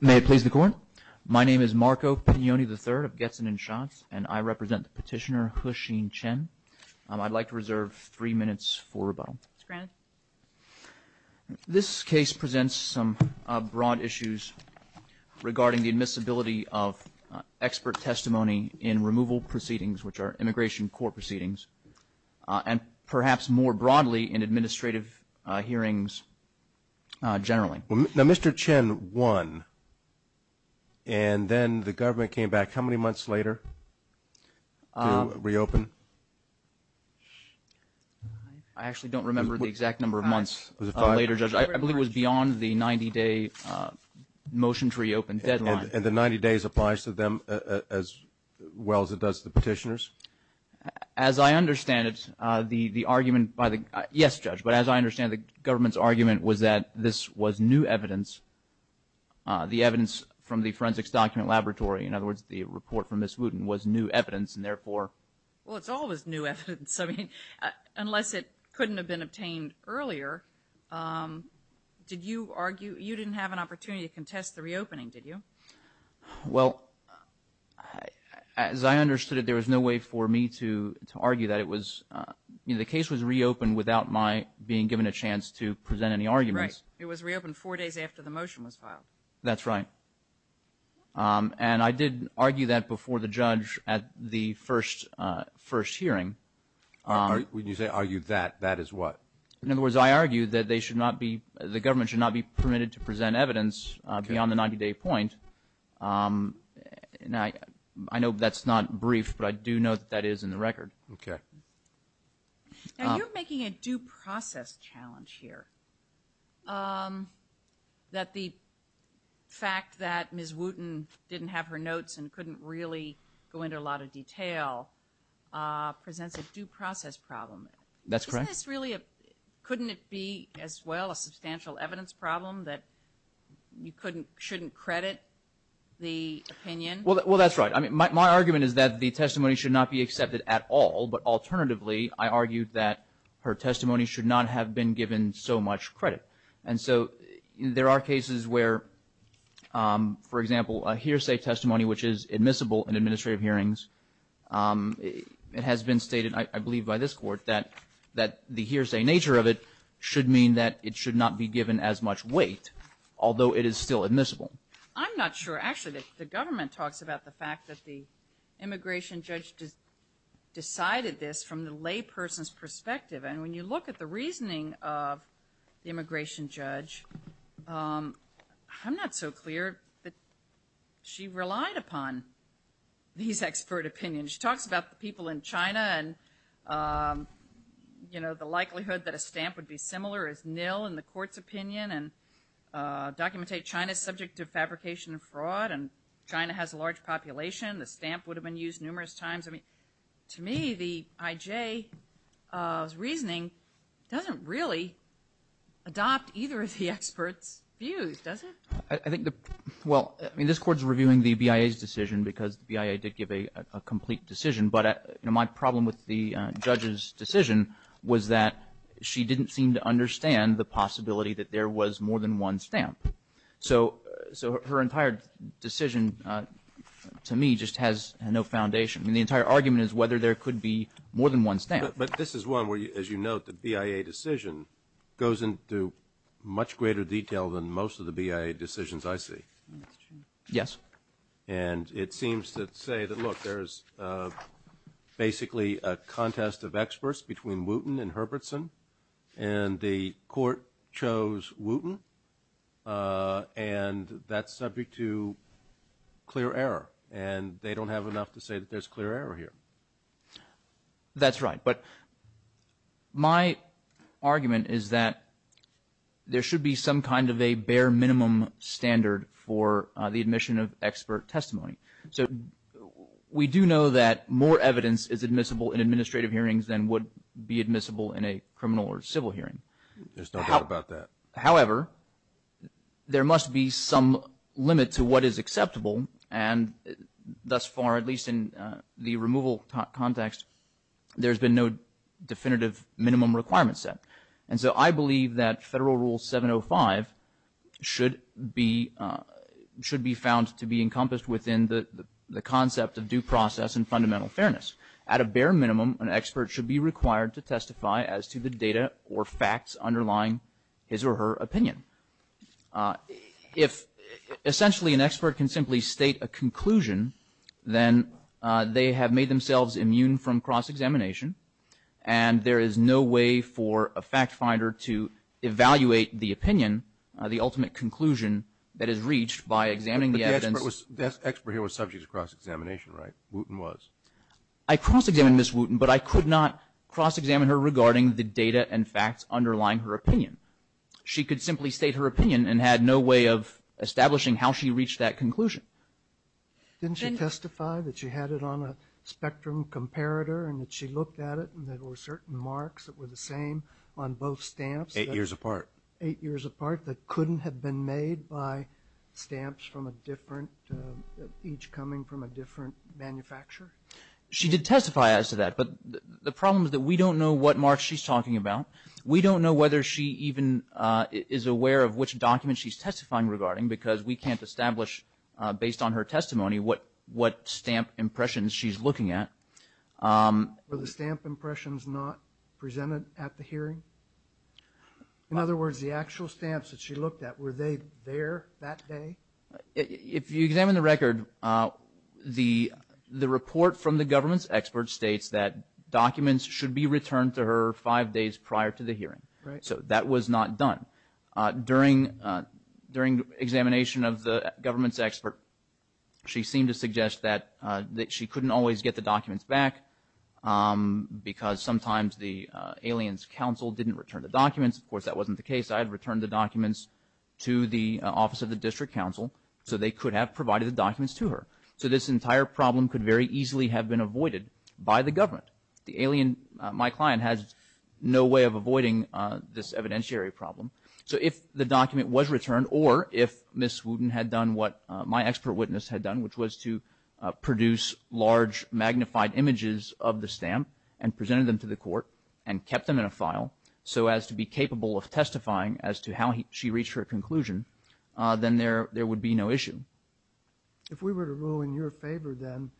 May it please the court, my name is Marco Pignone III of Getzen and Schatz, and I represent the petitioner, Huixin Chen. I'd like to reserve three minutes for rebuttal. This case presents some broad issues regarding the admissibility of expert testimony in removal proceedings, which are immigration court proceedings, and perhaps more broadly in administrative hearings generally. Now Mr. Chen won and then the government came back how many months later to reopen? I actually don't remember the exact number of months later, Judge. I believe it was beyond the 90 day motion to reopen deadline. And the 90 days applies to them as well as it does the petitioners? As I understand the government's argument was that this was new evidence. The evidence from the forensics document laboratory, in other words the report from Ms. Wooten, was new evidence and therefore... Well it's always new evidence. I mean unless it couldn't have been obtained earlier, did you argue you didn't have an opportunity to contest the reopening did you? Well as I understood it there was no way for me to to argue that it was you know the case was reopened without my being given a chance to present any arguments. Right, it was reopened four days after the motion was filed. That's right and I did argue that before the judge at the first first hearing. When you say argued that, that is what? In other words I argued that they should not be the government should not be permitted to present evidence beyond the 90-day point. Now I know that's not brief but I do know that that is in the Now you're making a due process challenge here. That the fact that Ms. Wooten didn't have her notes and couldn't really go into a lot of detail presents a due process problem. That's correct. Isn't this really a, couldn't it be as well a substantial evidence problem that you couldn't shouldn't credit the opinion? Well that's right I mean my argument is that the testimony should not be Alternatively I argued that her testimony should not have been given so much credit and so there are cases where for example a hearsay testimony which is admissible in administrative hearings it has been stated I believe by this court that that the hearsay nature of it should mean that it should not be given as much weight although it is still admissible. I'm not sure actually that the government talks about the fact that the immigration judge just decided this from the lay person's perspective and when you look at the reasoning of the immigration judge I'm not so clear that she relied upon these expert opinions. She talks about the people in China and you know the likelihood that a stamp would be similar as nil in the court's opinion and document a China subject to fabrication and fraud and China has a large population the stamp would have been used numerous times I mean to me the IJ's reasoning doesn't really adopt either of the experts views does it? I think the well I mean this courts reviewing the BIA's decision because the BIA did give a complete decision but my problem with the judge's decision was that she didn't seem to understand the possibility that there was more than one stamp so so her entire decision to me just has no foundation I mean the entire argument is whether there could be more than one stamp. But this is one where you as you note the BIA decision goes into much greater detail than most of the BIA decisions I see. Yes. And it seems to say that look there's basically a contest of experts between Wooten and they don't have enough to say that there's clear error here. That's right but my argument is that there should be some kind of a bare minimum standard for the admission of expert testimony so we do know that more evidence is admissible in administrative hearings than would be admissible in a criminal or civil hearing. There's no doubt about that. However there must be some limit to what is acceptable and thus far at least in the removal context there's been no definitive minimum requirement set and so I believe that federal rule 705 should be should be found to be encompassed within the the concept of due process and fundamental fairness. At a bare minimum an expert should be required to testify as to the data or facts underlying his or her opinion. If essentially an expert can simply state a conclusion then they have made themselves immune from cross-examination and there is no way for a fact-finder to evaluate the opinion the ultimate conclusion that is reached by examining the evidence. The expert here was subject to cross-examination right? Wooten was. I cross-examined Ms. Wooten but I could not cross-examine her regarding the data and facts underlying her opinion. She could simply state her opinion and had no way of establishing how she reached that conclusion. Didn't she testify that she had it on a spectrum comparator and that she looked at it and there were certain marks that were the same on both stamps? Eight years apart. Eight years apart that couldn't have been made by stamps from a different each coming from a different manufacturer? She did testify as to that but the problem is that we don't know what marks she's talking about. We don't know whether she even is aware of which document she's testifying regarding because we can't establish based on her testimony what what stamp impressions she's looking at. Were the stamp impressions not presented at the hearing? In other words the actual stamps that she looked at were they there that day? If you examine the record the the report from the government's expert states that documents should be returned to her five days prior to the hearing. So that was not done. During during examination of the government's expert she seemed to suggest that that she couldn't always get the documents back because sometimes the aliens council didn't return the documents. Of course that wasn't the case. I had returned the documents to the office of the District Council so they could have provided the documents to her. So this entire problem could very easily have been avoided by the government. The government had no way of avoiding this evidentiary problem. So if the document was returned or if Ms. Wooten had done what my expert witness had done which was to produce large magnified images of the stamp and presented them to the court and kept them in a file so as to be capable of testifying as to how she reached her conclusion then there there would be no issue. If we were to rule in your favor then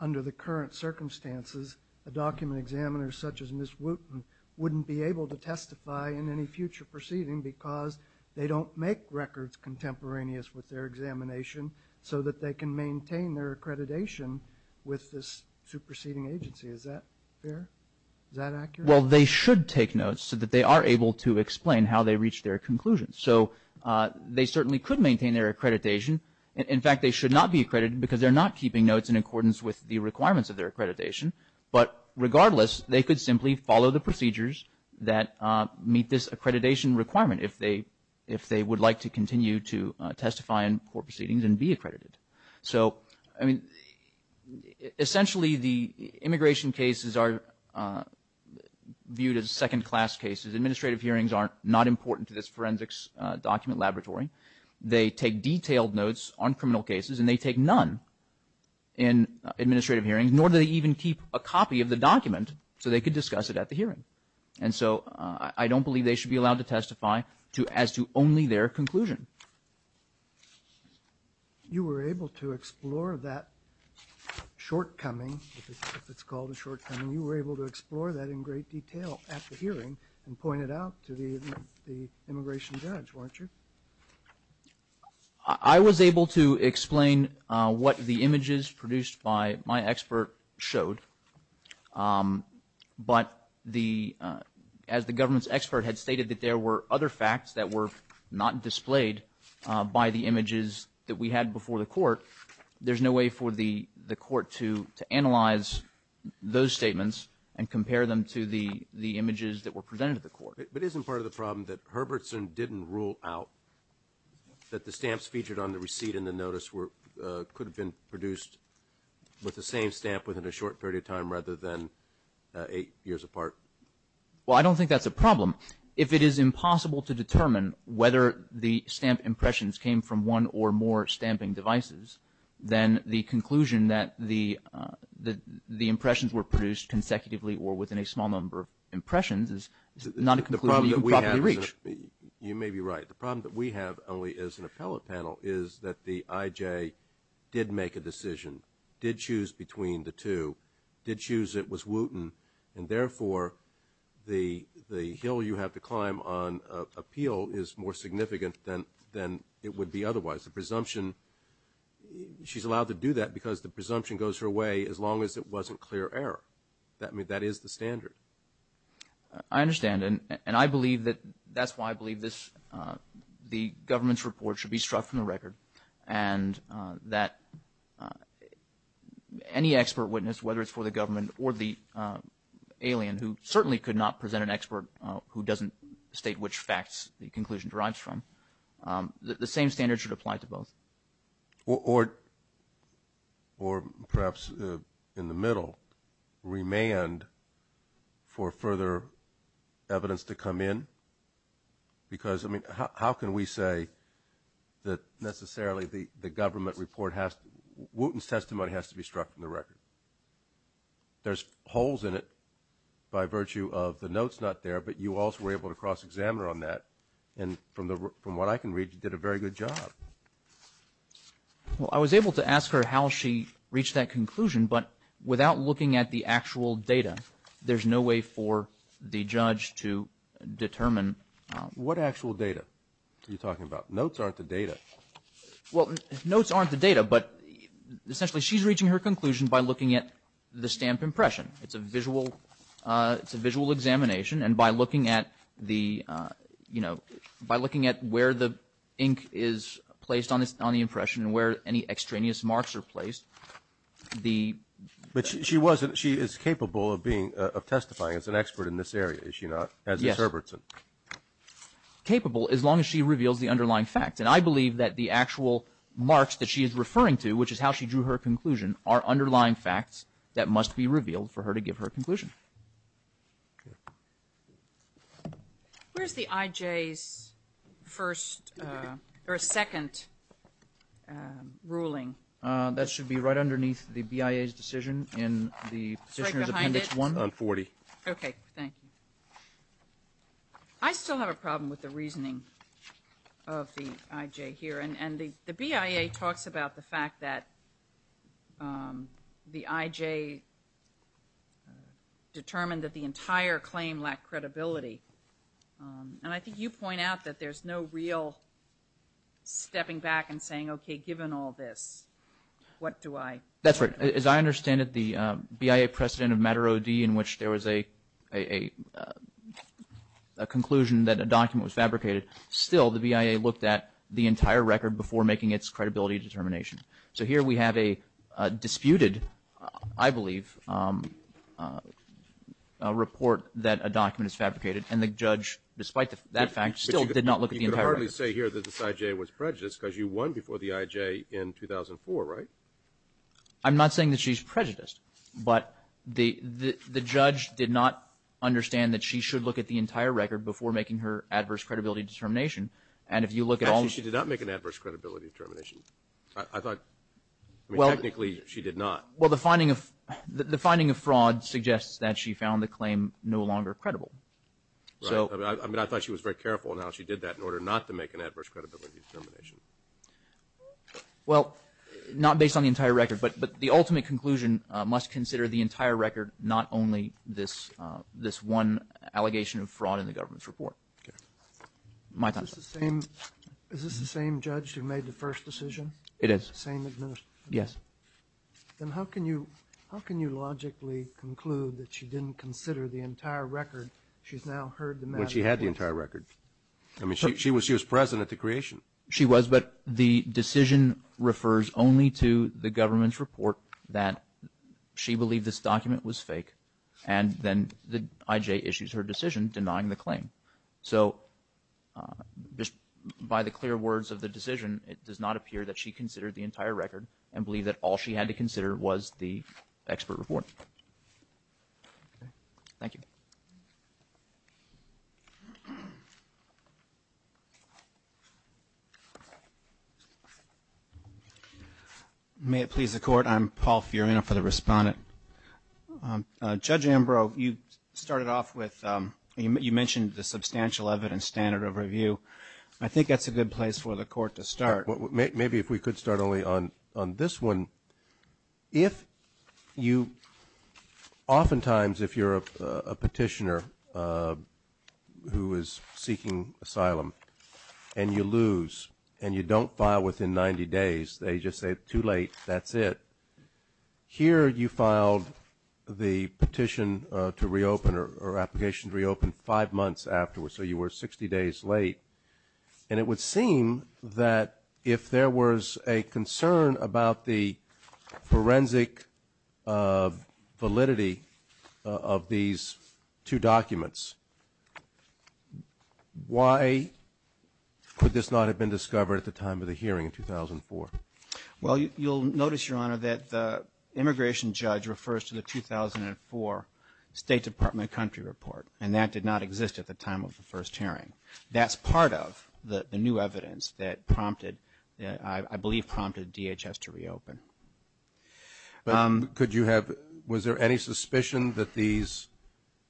under the current circumstances a document examiner such as Ms. Wooten wouldn't be able to testify in any future proceeding because they don't make records contemporaneous with their examination so that they can maintain their accreditation with this superseding agency. Is that fair? Is that accurate? Well they should take notes so that they are able to explain how they reach their conclusions. So they certainly could maintain their accreditation. In fact they should not be accredited because they're not keeping notes in accordance with the requirements of their accreditation. But regardless they could simply follow the procedures that meet this accreditation requirement if they if they would like to continue to testify in court proceedings and be accredited. So I mean essentially the immigration cases are viewed as second-class cases. Administrative hearings aren't not important to this forensics document laboratory. They take detailed notes on criminal cases and they take none in administrative hearings nor do they even keep a copy of the document so they could discuss it at the hearing. And so I don't believe they should be allowed to testify to as to only their conclusion. You were able to explore that shortcoming, if it's called a shortcoming, you were able to explore that in great detail at the hearing and point it out to the the immigration judge weren't you? I was able to explain what the images produced by my expert showed but the as the government's expert had stated that there were other facts that were not displayed by the images that we had before the court there's no way for the the court to to analyze those statements and compare them to the the images that were presented to the court. But isn't part of the problem that Herbertson didn't rule out that the stamps featured on the within a short period of time rather than eight years apart? Well I don't think that's a problem. If it is impossible to determine whether the stamp impressions came from one or more stamping devices then the conclusion that the the the impressions were produced consecutively or within a small number of impressions is not a conclusion you can properly reach. You may be right. The problem that we have only as an appellate panel is that the IJ did make a decision, did choose between the two, did choose it was Wooten and therefore the the hill you have to climb on appeal is more significant than than it would be otherwise. The presumption she's allowed to do that because the presumption goes her way as long as it wasn't clear error. I mean that is the standard. I understand and and I believe that that's why I believe this the government's report should be struck from the record and that any expert witness whether it's for the government or the alien who certainly could not present an expert who doesn't state which facts the conclusion derives from the same standard should apply to both. Or perhaps in the middle remand for further evidence to come in because I mean how can we say that necessarily the the government report has Wooten's testimony has to be struck from the record. There's holes in it by virtue of the notes not there but you also were able to cross examiner on that and from the from what I can read you did a very good job. Well I was able to ask her how she reached that conclusion but without looking at the judge to determine. What actual data are you talking about? Notes aren't the data. Well notes aren't the data but essentially she's reaching her conclusion by looking at the stamp impression. It's a visual it's a visual examination and by looking at the you know by looking at where the ink is placed on this on the impression and where any extraneous marks are placed the. But she wasn't she is capable of being of testifying as an expert in this area is she not? As is Herbertson. Capable as long as she reveals the underlying facts and I believe that the actual marks that she is referring to which is how she drew her conclusion are underlying facts that must be revealed for her to give her conclusion. Where's the IJ's first or a second ruling? That should be right behind it. On 40. Okay thank you. I still have a problem with the reasoning of the IJ here and and the the BIA talks about the fact that the IJ determined that the entire claim lacked credibility and I think you point out that there's no real stepping back and saying okay given all this what do I? That's right as I understand it the BIA precedent of matter OD in which there was a a conclusion that a document was fabricated still the BIA looked at the entire record before making its credibility determination. So here we have a disputed I believe report that a document is fabricated and the judge despite that fact still did not look at the entire record. You could hardly say here that this IJ was prejudiced but the the judge did not understand that she should look at the entire record before making her adverse credibility determination and if you look at all. Actually she did not make an adverse credibility determination. I thought well technically she did not. Well the finding of the finding of fraud suggests that she found the claim no longer credible. So I mean I thought she was very careful now she did that in order not to make an adverse credibility determination. Well not based on the entire record but but the ultimate conclusion must consider the entire record not only this this one allegation of fraud in the government's report. My time. Is this the same judge who made the first decision? It is. Same administrator? Yes. Then how can you how can you logically conclude that she didn't consider the entire record she's now heard the matter? When she had the entire record. I mean she was she was present at the creation. She was but the decision refers only to the government's report that she believed this document was fake and then the IJ issues her decision denying the claim. So just by the clear words of the decision it does not appear that she considered the entire record and believe that all she had to consider was the expert report. Thank you. May it please the court I'm Paul Furiano for the respondent. Judge Ambrose you started off with you mentioned the substantial evidence standard of review. I think that's a good place for the court to start. Maybe if we could start only on on this one. If you oftentimes if you're a petitioner who is seeking asylum and you lose and you don't file within 90 days they just say too late that's it. Here you filed the petition to reopen or application to reopen five months afterwards so you were 60 days late and it would seem that if there was a concern about the forensic validity of these two documents why could this not have been discovered at the time of the hearing in 2004? Well you'll notice your honor that the immigration judge refers to the 2004 State Department country report and that did not exist at the time of the first hearing. That's part of the new evidence that prompted I believe prompted DHS to reopen. Was there any suspicion that these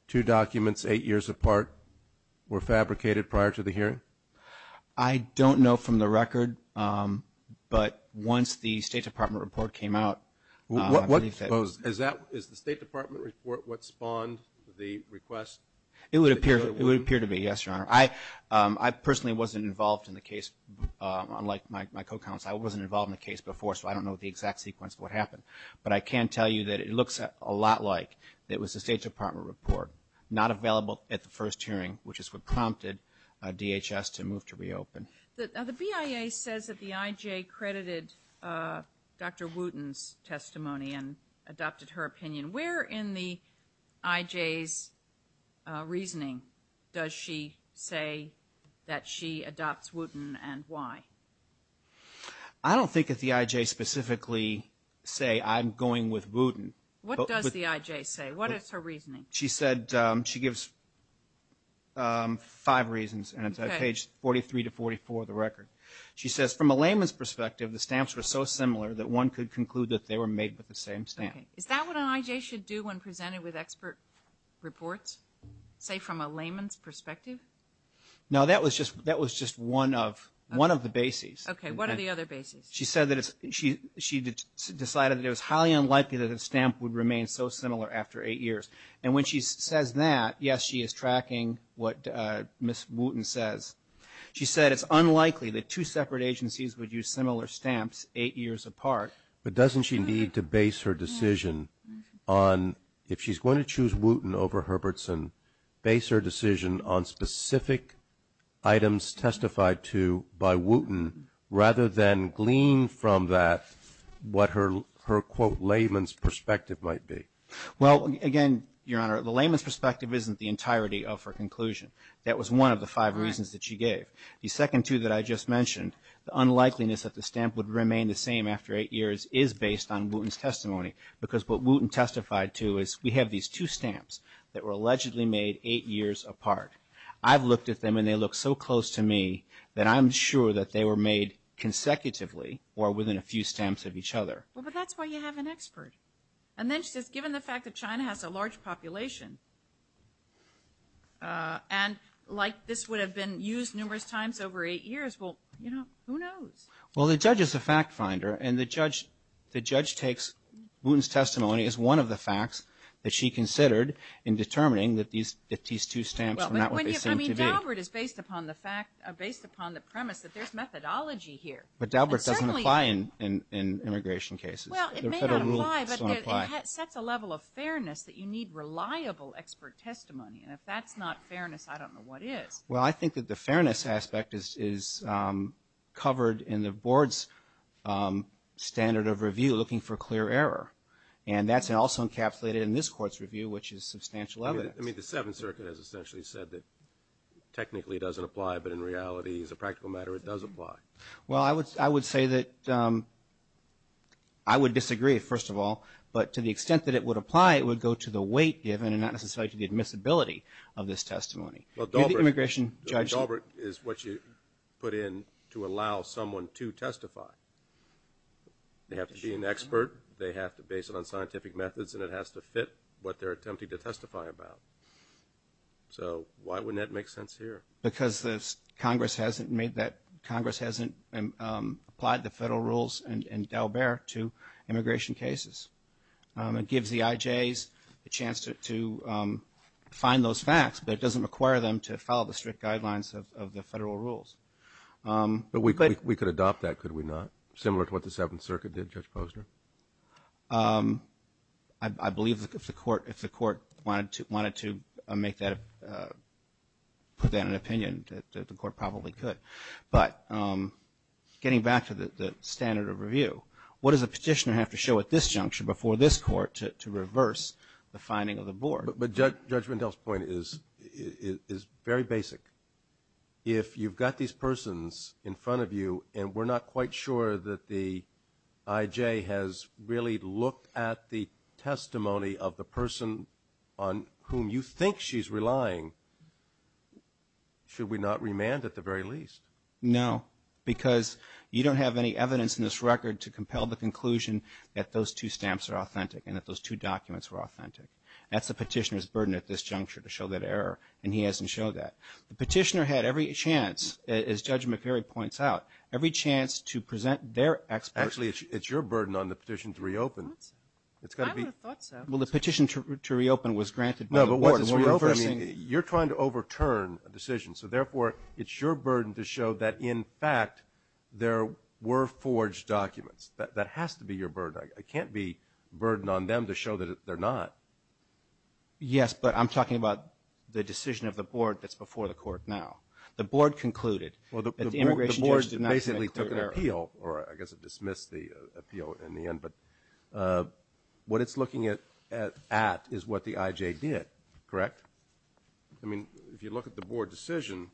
two documents eight years apart were fabricated prior to the hearing? I don't know from the record but once the State Department report came out. Is the State Department report what spawned the request? It would appear to be yes your honor. I personally wasn't involved in the case unlike my co-counsel I wasn't involved in the case before so I don't know the exact sequence of what happened but I can tell you that it looks a lot like it was a State Department report not available at the first hearing which is what prompted DHS to move to reopen. The BIA says that the IJ credited Dr. Wooten's opinion. Where in the IJ's reasoning does she say that she adopts Wooten and why? I don't think that the IJ specifically say I'm going with Wooten. What does the IJ say? What is her reasoning? She said she gives five reasons and it's on page 43 to 44 of the record. She says from a layman's perspective the stamps were so similar that one could conclude that they were made with the same stamp. Is that what an IJ should do when presented with expert reports say from a layman's perspective? No that was just that was just one of one of the bases. Okay what are the other bases? She said that it's she she decided it was highly unlikely that a stamp would remain so similar after eight years and when she says that yes she is tracking what Ms. Wooten says. She said it's unlikely that two separate agencies would use similar stamps eight years apart. But doesn't she need to base her decision on if she's going to choose Wooten over Herbertson base her decision on specific items testified to by Wooten rather than glean from that what her her quote layman's perspective might be? Well again Your Honor the layman's perspective isn't the entirety of her conclusion. That was one of the five reasons that she gave. The second two that I just mentioned the unlikeliness that the stamp would remain the same after eight years is based on Wooten's testimony because what Wooten testified to is we have these two stamps that were allegedly made eight years apart. I've looked at them and they look so close to me that I'm sure that they were made consecutively or within a few stamps of each other. Well but that's why you have an expert and then she says given the fact that China has a large population and like this would have been used numerous times over eight years well you know who knows? Well the judge is the fact finder and the judge the judge takes Wooten's testimony as one of the facts that she considered in determining that these that these two stamps are not what they seem to be. I mean Daubert is based upon the fact based upon the premise that there's methodology here. But Daubert doesn't apply in immigration cases. Well it may not apply but it sets a level of fairness that you need reliable expert testimony and if that's not fairness I don't know what is. Well I think that the standard of review looking for clear error and that's also encapsulated in this court's review which is substantial evidence. I mean the Seventh Circuit has essentially said that technically doesn't apply but in reality as a practical matter it does apply. Well I would I would say that I would disagree first of all but to the extent that it would apply it would go to the weight given and not necessarily to the admissibility of this testimony. Daubert is what you put in to allow someone to testify. They have to be an expert, they have to base it on scientific methods, and it has to fit what they're attempting to testify about. So why wouldn't that make sense here? Because this Congress hasn't made that Congress hasn't applied the federal rules and Dalbert to immigration cases. It gives the IJs a chance to find those facts but it doesn't require them to follow the strict guidelines of the federal rules. But we could we could adopt that could we not similar to what the Seventh Circuit did Judge Posner? I believe if the court if the court wanted to wanted to make that put that an opinion that the court probably could but getting back to the standard of review what does a petitioner have to show at this junction before this court to reverse the finding of the board? But Judge Mendel's point is is very basic. If you've got these persons in front of you and we're not quite sure that the IJ has really looked at the testimony of the person on whom you think she's relying, should we not remand at the very least? No, because you don't have any evidence in this record to compel the conclusion that those two stamps are authentic and that those two documents were authentic. That's the petitioner's burden at this juncture to show that error and he hasn't showed that. The petitioner had every chance, as Judge McCarry points out, every chance to present their experts. Actually it's your burden on the petition to reopen. I would have thought so. Well the petition to reopen was granted by the board. You're trying to overturn a decision so therefore it's your burden to show that in fact there were forged documents. That has to be your burden. It can't be a burden on them to show that they're not. Yes, but I'm talking about the decision of the board that's before the court now. The board concluded that the immigration judge did not make clear error. Well the board basically took an appeal or I guess it dismissed the appeal in the end, but what it's looking at is what the IJ did, correct? I mean if you look at the board decision,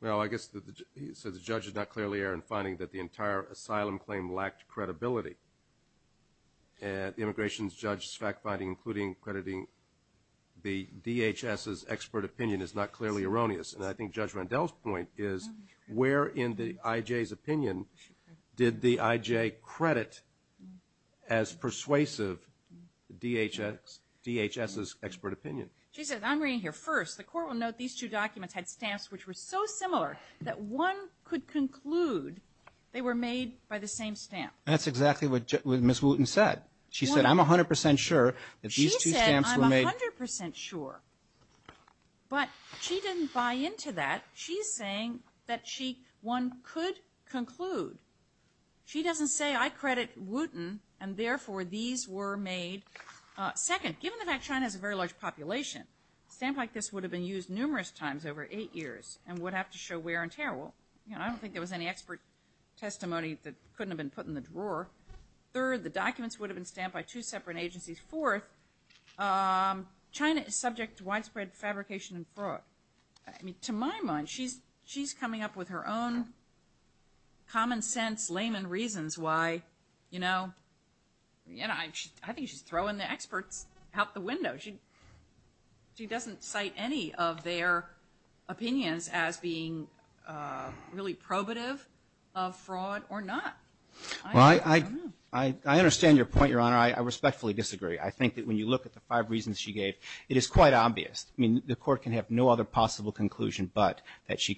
well I guess that the judge is not clearly error in finding that the entire asylum claim lacked credibility and the immigration judge's fact-finding including crediting the DHS's expert opinion is not clearly erroneous and I think Judge Rendell's point is where in the IJ's opinion did the IJ credit as DHS's expert opinion. She says I'm reading here first the court will note these two documents had stamps which were so similar that one could conclude they were made by the same stamp. That's exactly what Miss Wooten said. She said I'm a hundred percent sure that these two stamps were made. She said I'm a hundred percent sure, but she didn't buy into that. She's saying that she one could conclude. She doesn't say I credit Wooten and therefore these were made. Second, given the fact China has a very large population, a stamp like this would have been used numerous times over eight years and would have to show wear and tear. Well I don't think there was any expert testimony that couldn't have been put in the drawer. Third, the documents would have been stamped by two separate agencies. Fourth, China is subject to widespread fabrication and fraud. I mean to my mind she's she's coming up with her own common-sense layman reasons why, you know, I think she's throwing the experts out the window. She doesn't cite any of their opinions as being really probative of fraud or not. Well I understand your point, Your Honor. I respectfully disagree. I think that when you look at the five reasons she gave, it is quite obvious. I mean the court can have no other possible conclusion but that she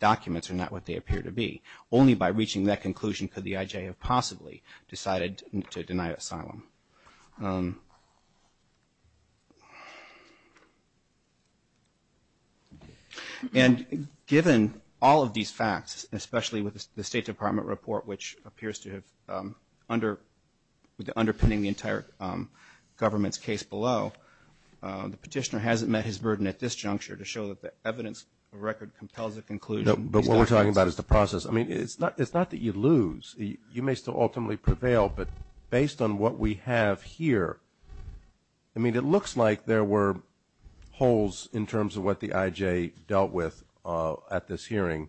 documents are not what they appear to be. Only by reaching that conclusion could the IJ have possibly decided to deny asylum. And given all of these facts, especially with the State Department report, which appears to have under underpinning the entire government's case below, the petitioner hasn't met his burden at this juncture to show that the evidence of record compels a conclusion. But what we're talking about is the process. I mean it's not it's not that you lose. You may still ultimately prevail but based on what we have here, I mean it looks like there were holes in terms of what the IJ dealt with at this hearing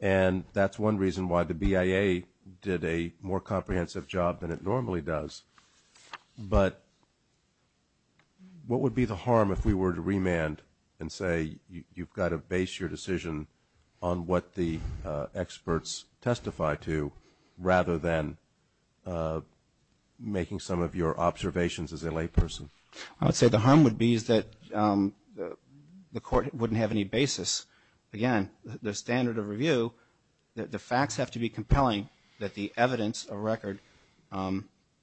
and that's one reason why the BIA did a more comprehensive job than it normally does. But what would be the harm if we were to remand and say you've got to base your decision on what the experts testify to rather than making some of your observations as a layperson? I would say the harm would be is that the court wouldn't have any basis. Again, the standard of review, the facts have to be compelling that the evidence of record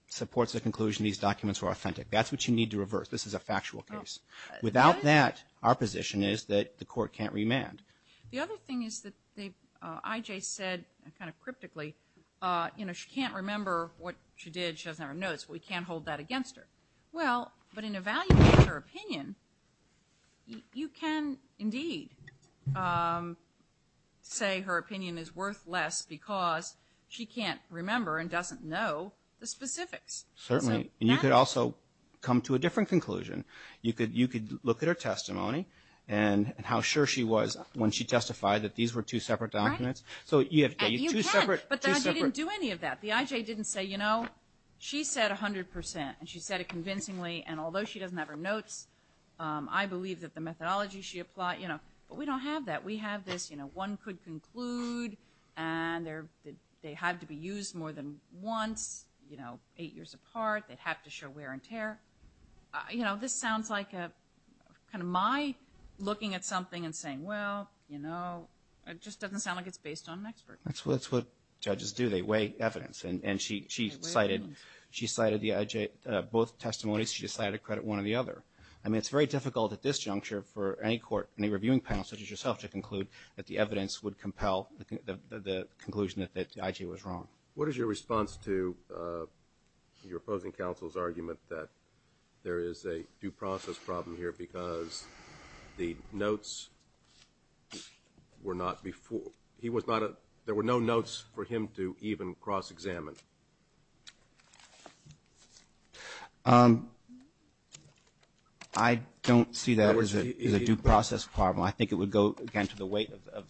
supports the conclusion these documents were authentic. That's what you need to reverse. This is a factual case. Without that, our position is that the court can't remand. The other thing is that the IJ said kind of cryptically, you know, she can't remember what she did. She doesn't have her notes. We can't hold that against her. Well, but in evaluating her opinion, you can indeed say her opinion is worthless because she can't remember and doesn't know the specifics. Certainly. You could also come to a different conclusion. You could look at her testimony and how sure she was when she testified that these were two separate documents. But the IJ didn't do any of that. The IJ didn't say, you know, she said 100% and she said it convincingly and although she doesn't have her notes, I believe that the methodology she applied, you know, but we don't have that. We have this, you know, one could conclude and they had to be used more than once, you know, eight years apart. They'd have to show wear and tear. You know, this sounds like a kind of my looking at something and saying, well, you know, it just doesn't sound like it's based on an expert. That's what judges do. They weigh evidence and she cited the IJ, both testimonies, she decided to credit one of the other. I mean, it's very difficult at this juncture for any court, any reviewing panel, such as yourself, to conclude that the evidence would compel the conclusion that the IJ was wrong. What is your response to your opposing counsel's argument that there is a due process problem here because the notes were not before, he was not a, there were no notes for him to even cross-examine. I don't see that as a due process problem. I think it would go again to the weight of,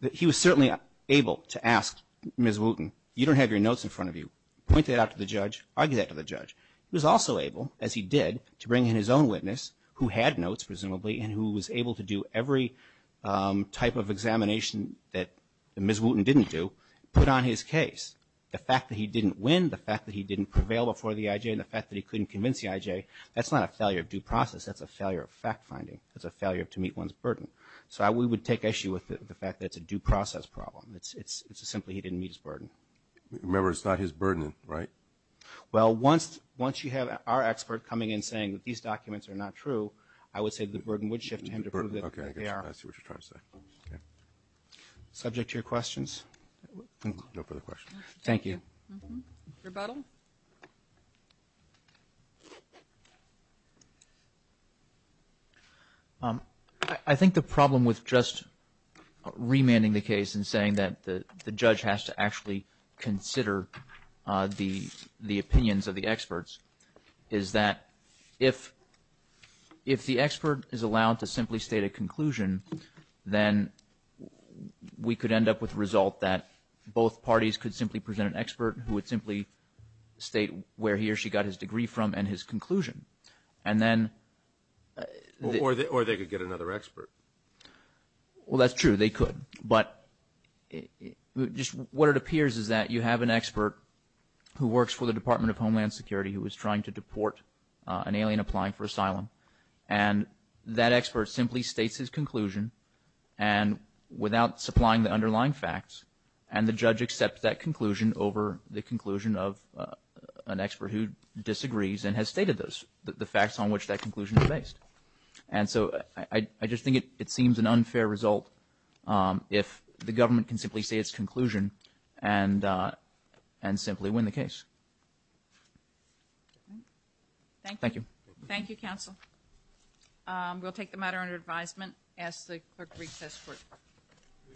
that he was certainly able to ask Ms. Wooten, you don't have your notes in front of you, point that out to the judge, argue that to the judge. He was also able, as he did, to bring in his own witness who had notes, presumably, and who was able to do every type of examination that Ms. Wooten didn't do, put on his case. The fact that he didn't win, the fact that he didn't prevail before the IJ, and the fact that he couldn't convince the IJ, that's not a failure of due process. That's a failure of fact-finding. That's a failure to meet one's burden. So we would take issue with the fact that it's a due process problem. It's simply he didn't meet his burden. Remember, it's not his burden, right? Well, once you have our expert coming in saying that these documents are not true, I would say the burden would shift to him to prove that they are. Subject to your questions. No further questions. Thank you. Rebuttal. I think the problem with just remanding the case and saying that the the judge has to actually consider the the opinions of the experts is that if if the expert is allowed to simply state a conclusion, then we could end up with result that both parties could simply present an expert who would simply state where he or she got his degree from and his conclusion. And then... Or they could get another expert. Well, that's true. They could. But just what it appears is that you have an expert who works for the Department of Homeland Security who was trying to deport an alien applying for asylum, and that expert simply states his facts, and the judge accepts that conclusion over the conclusion of an expert who disagrees and has stated those the facts on which that conclusion is based. And so I just think it seems an unfair result if the government can simply say its conclusion and and simply win the case. Thank you. Thank you,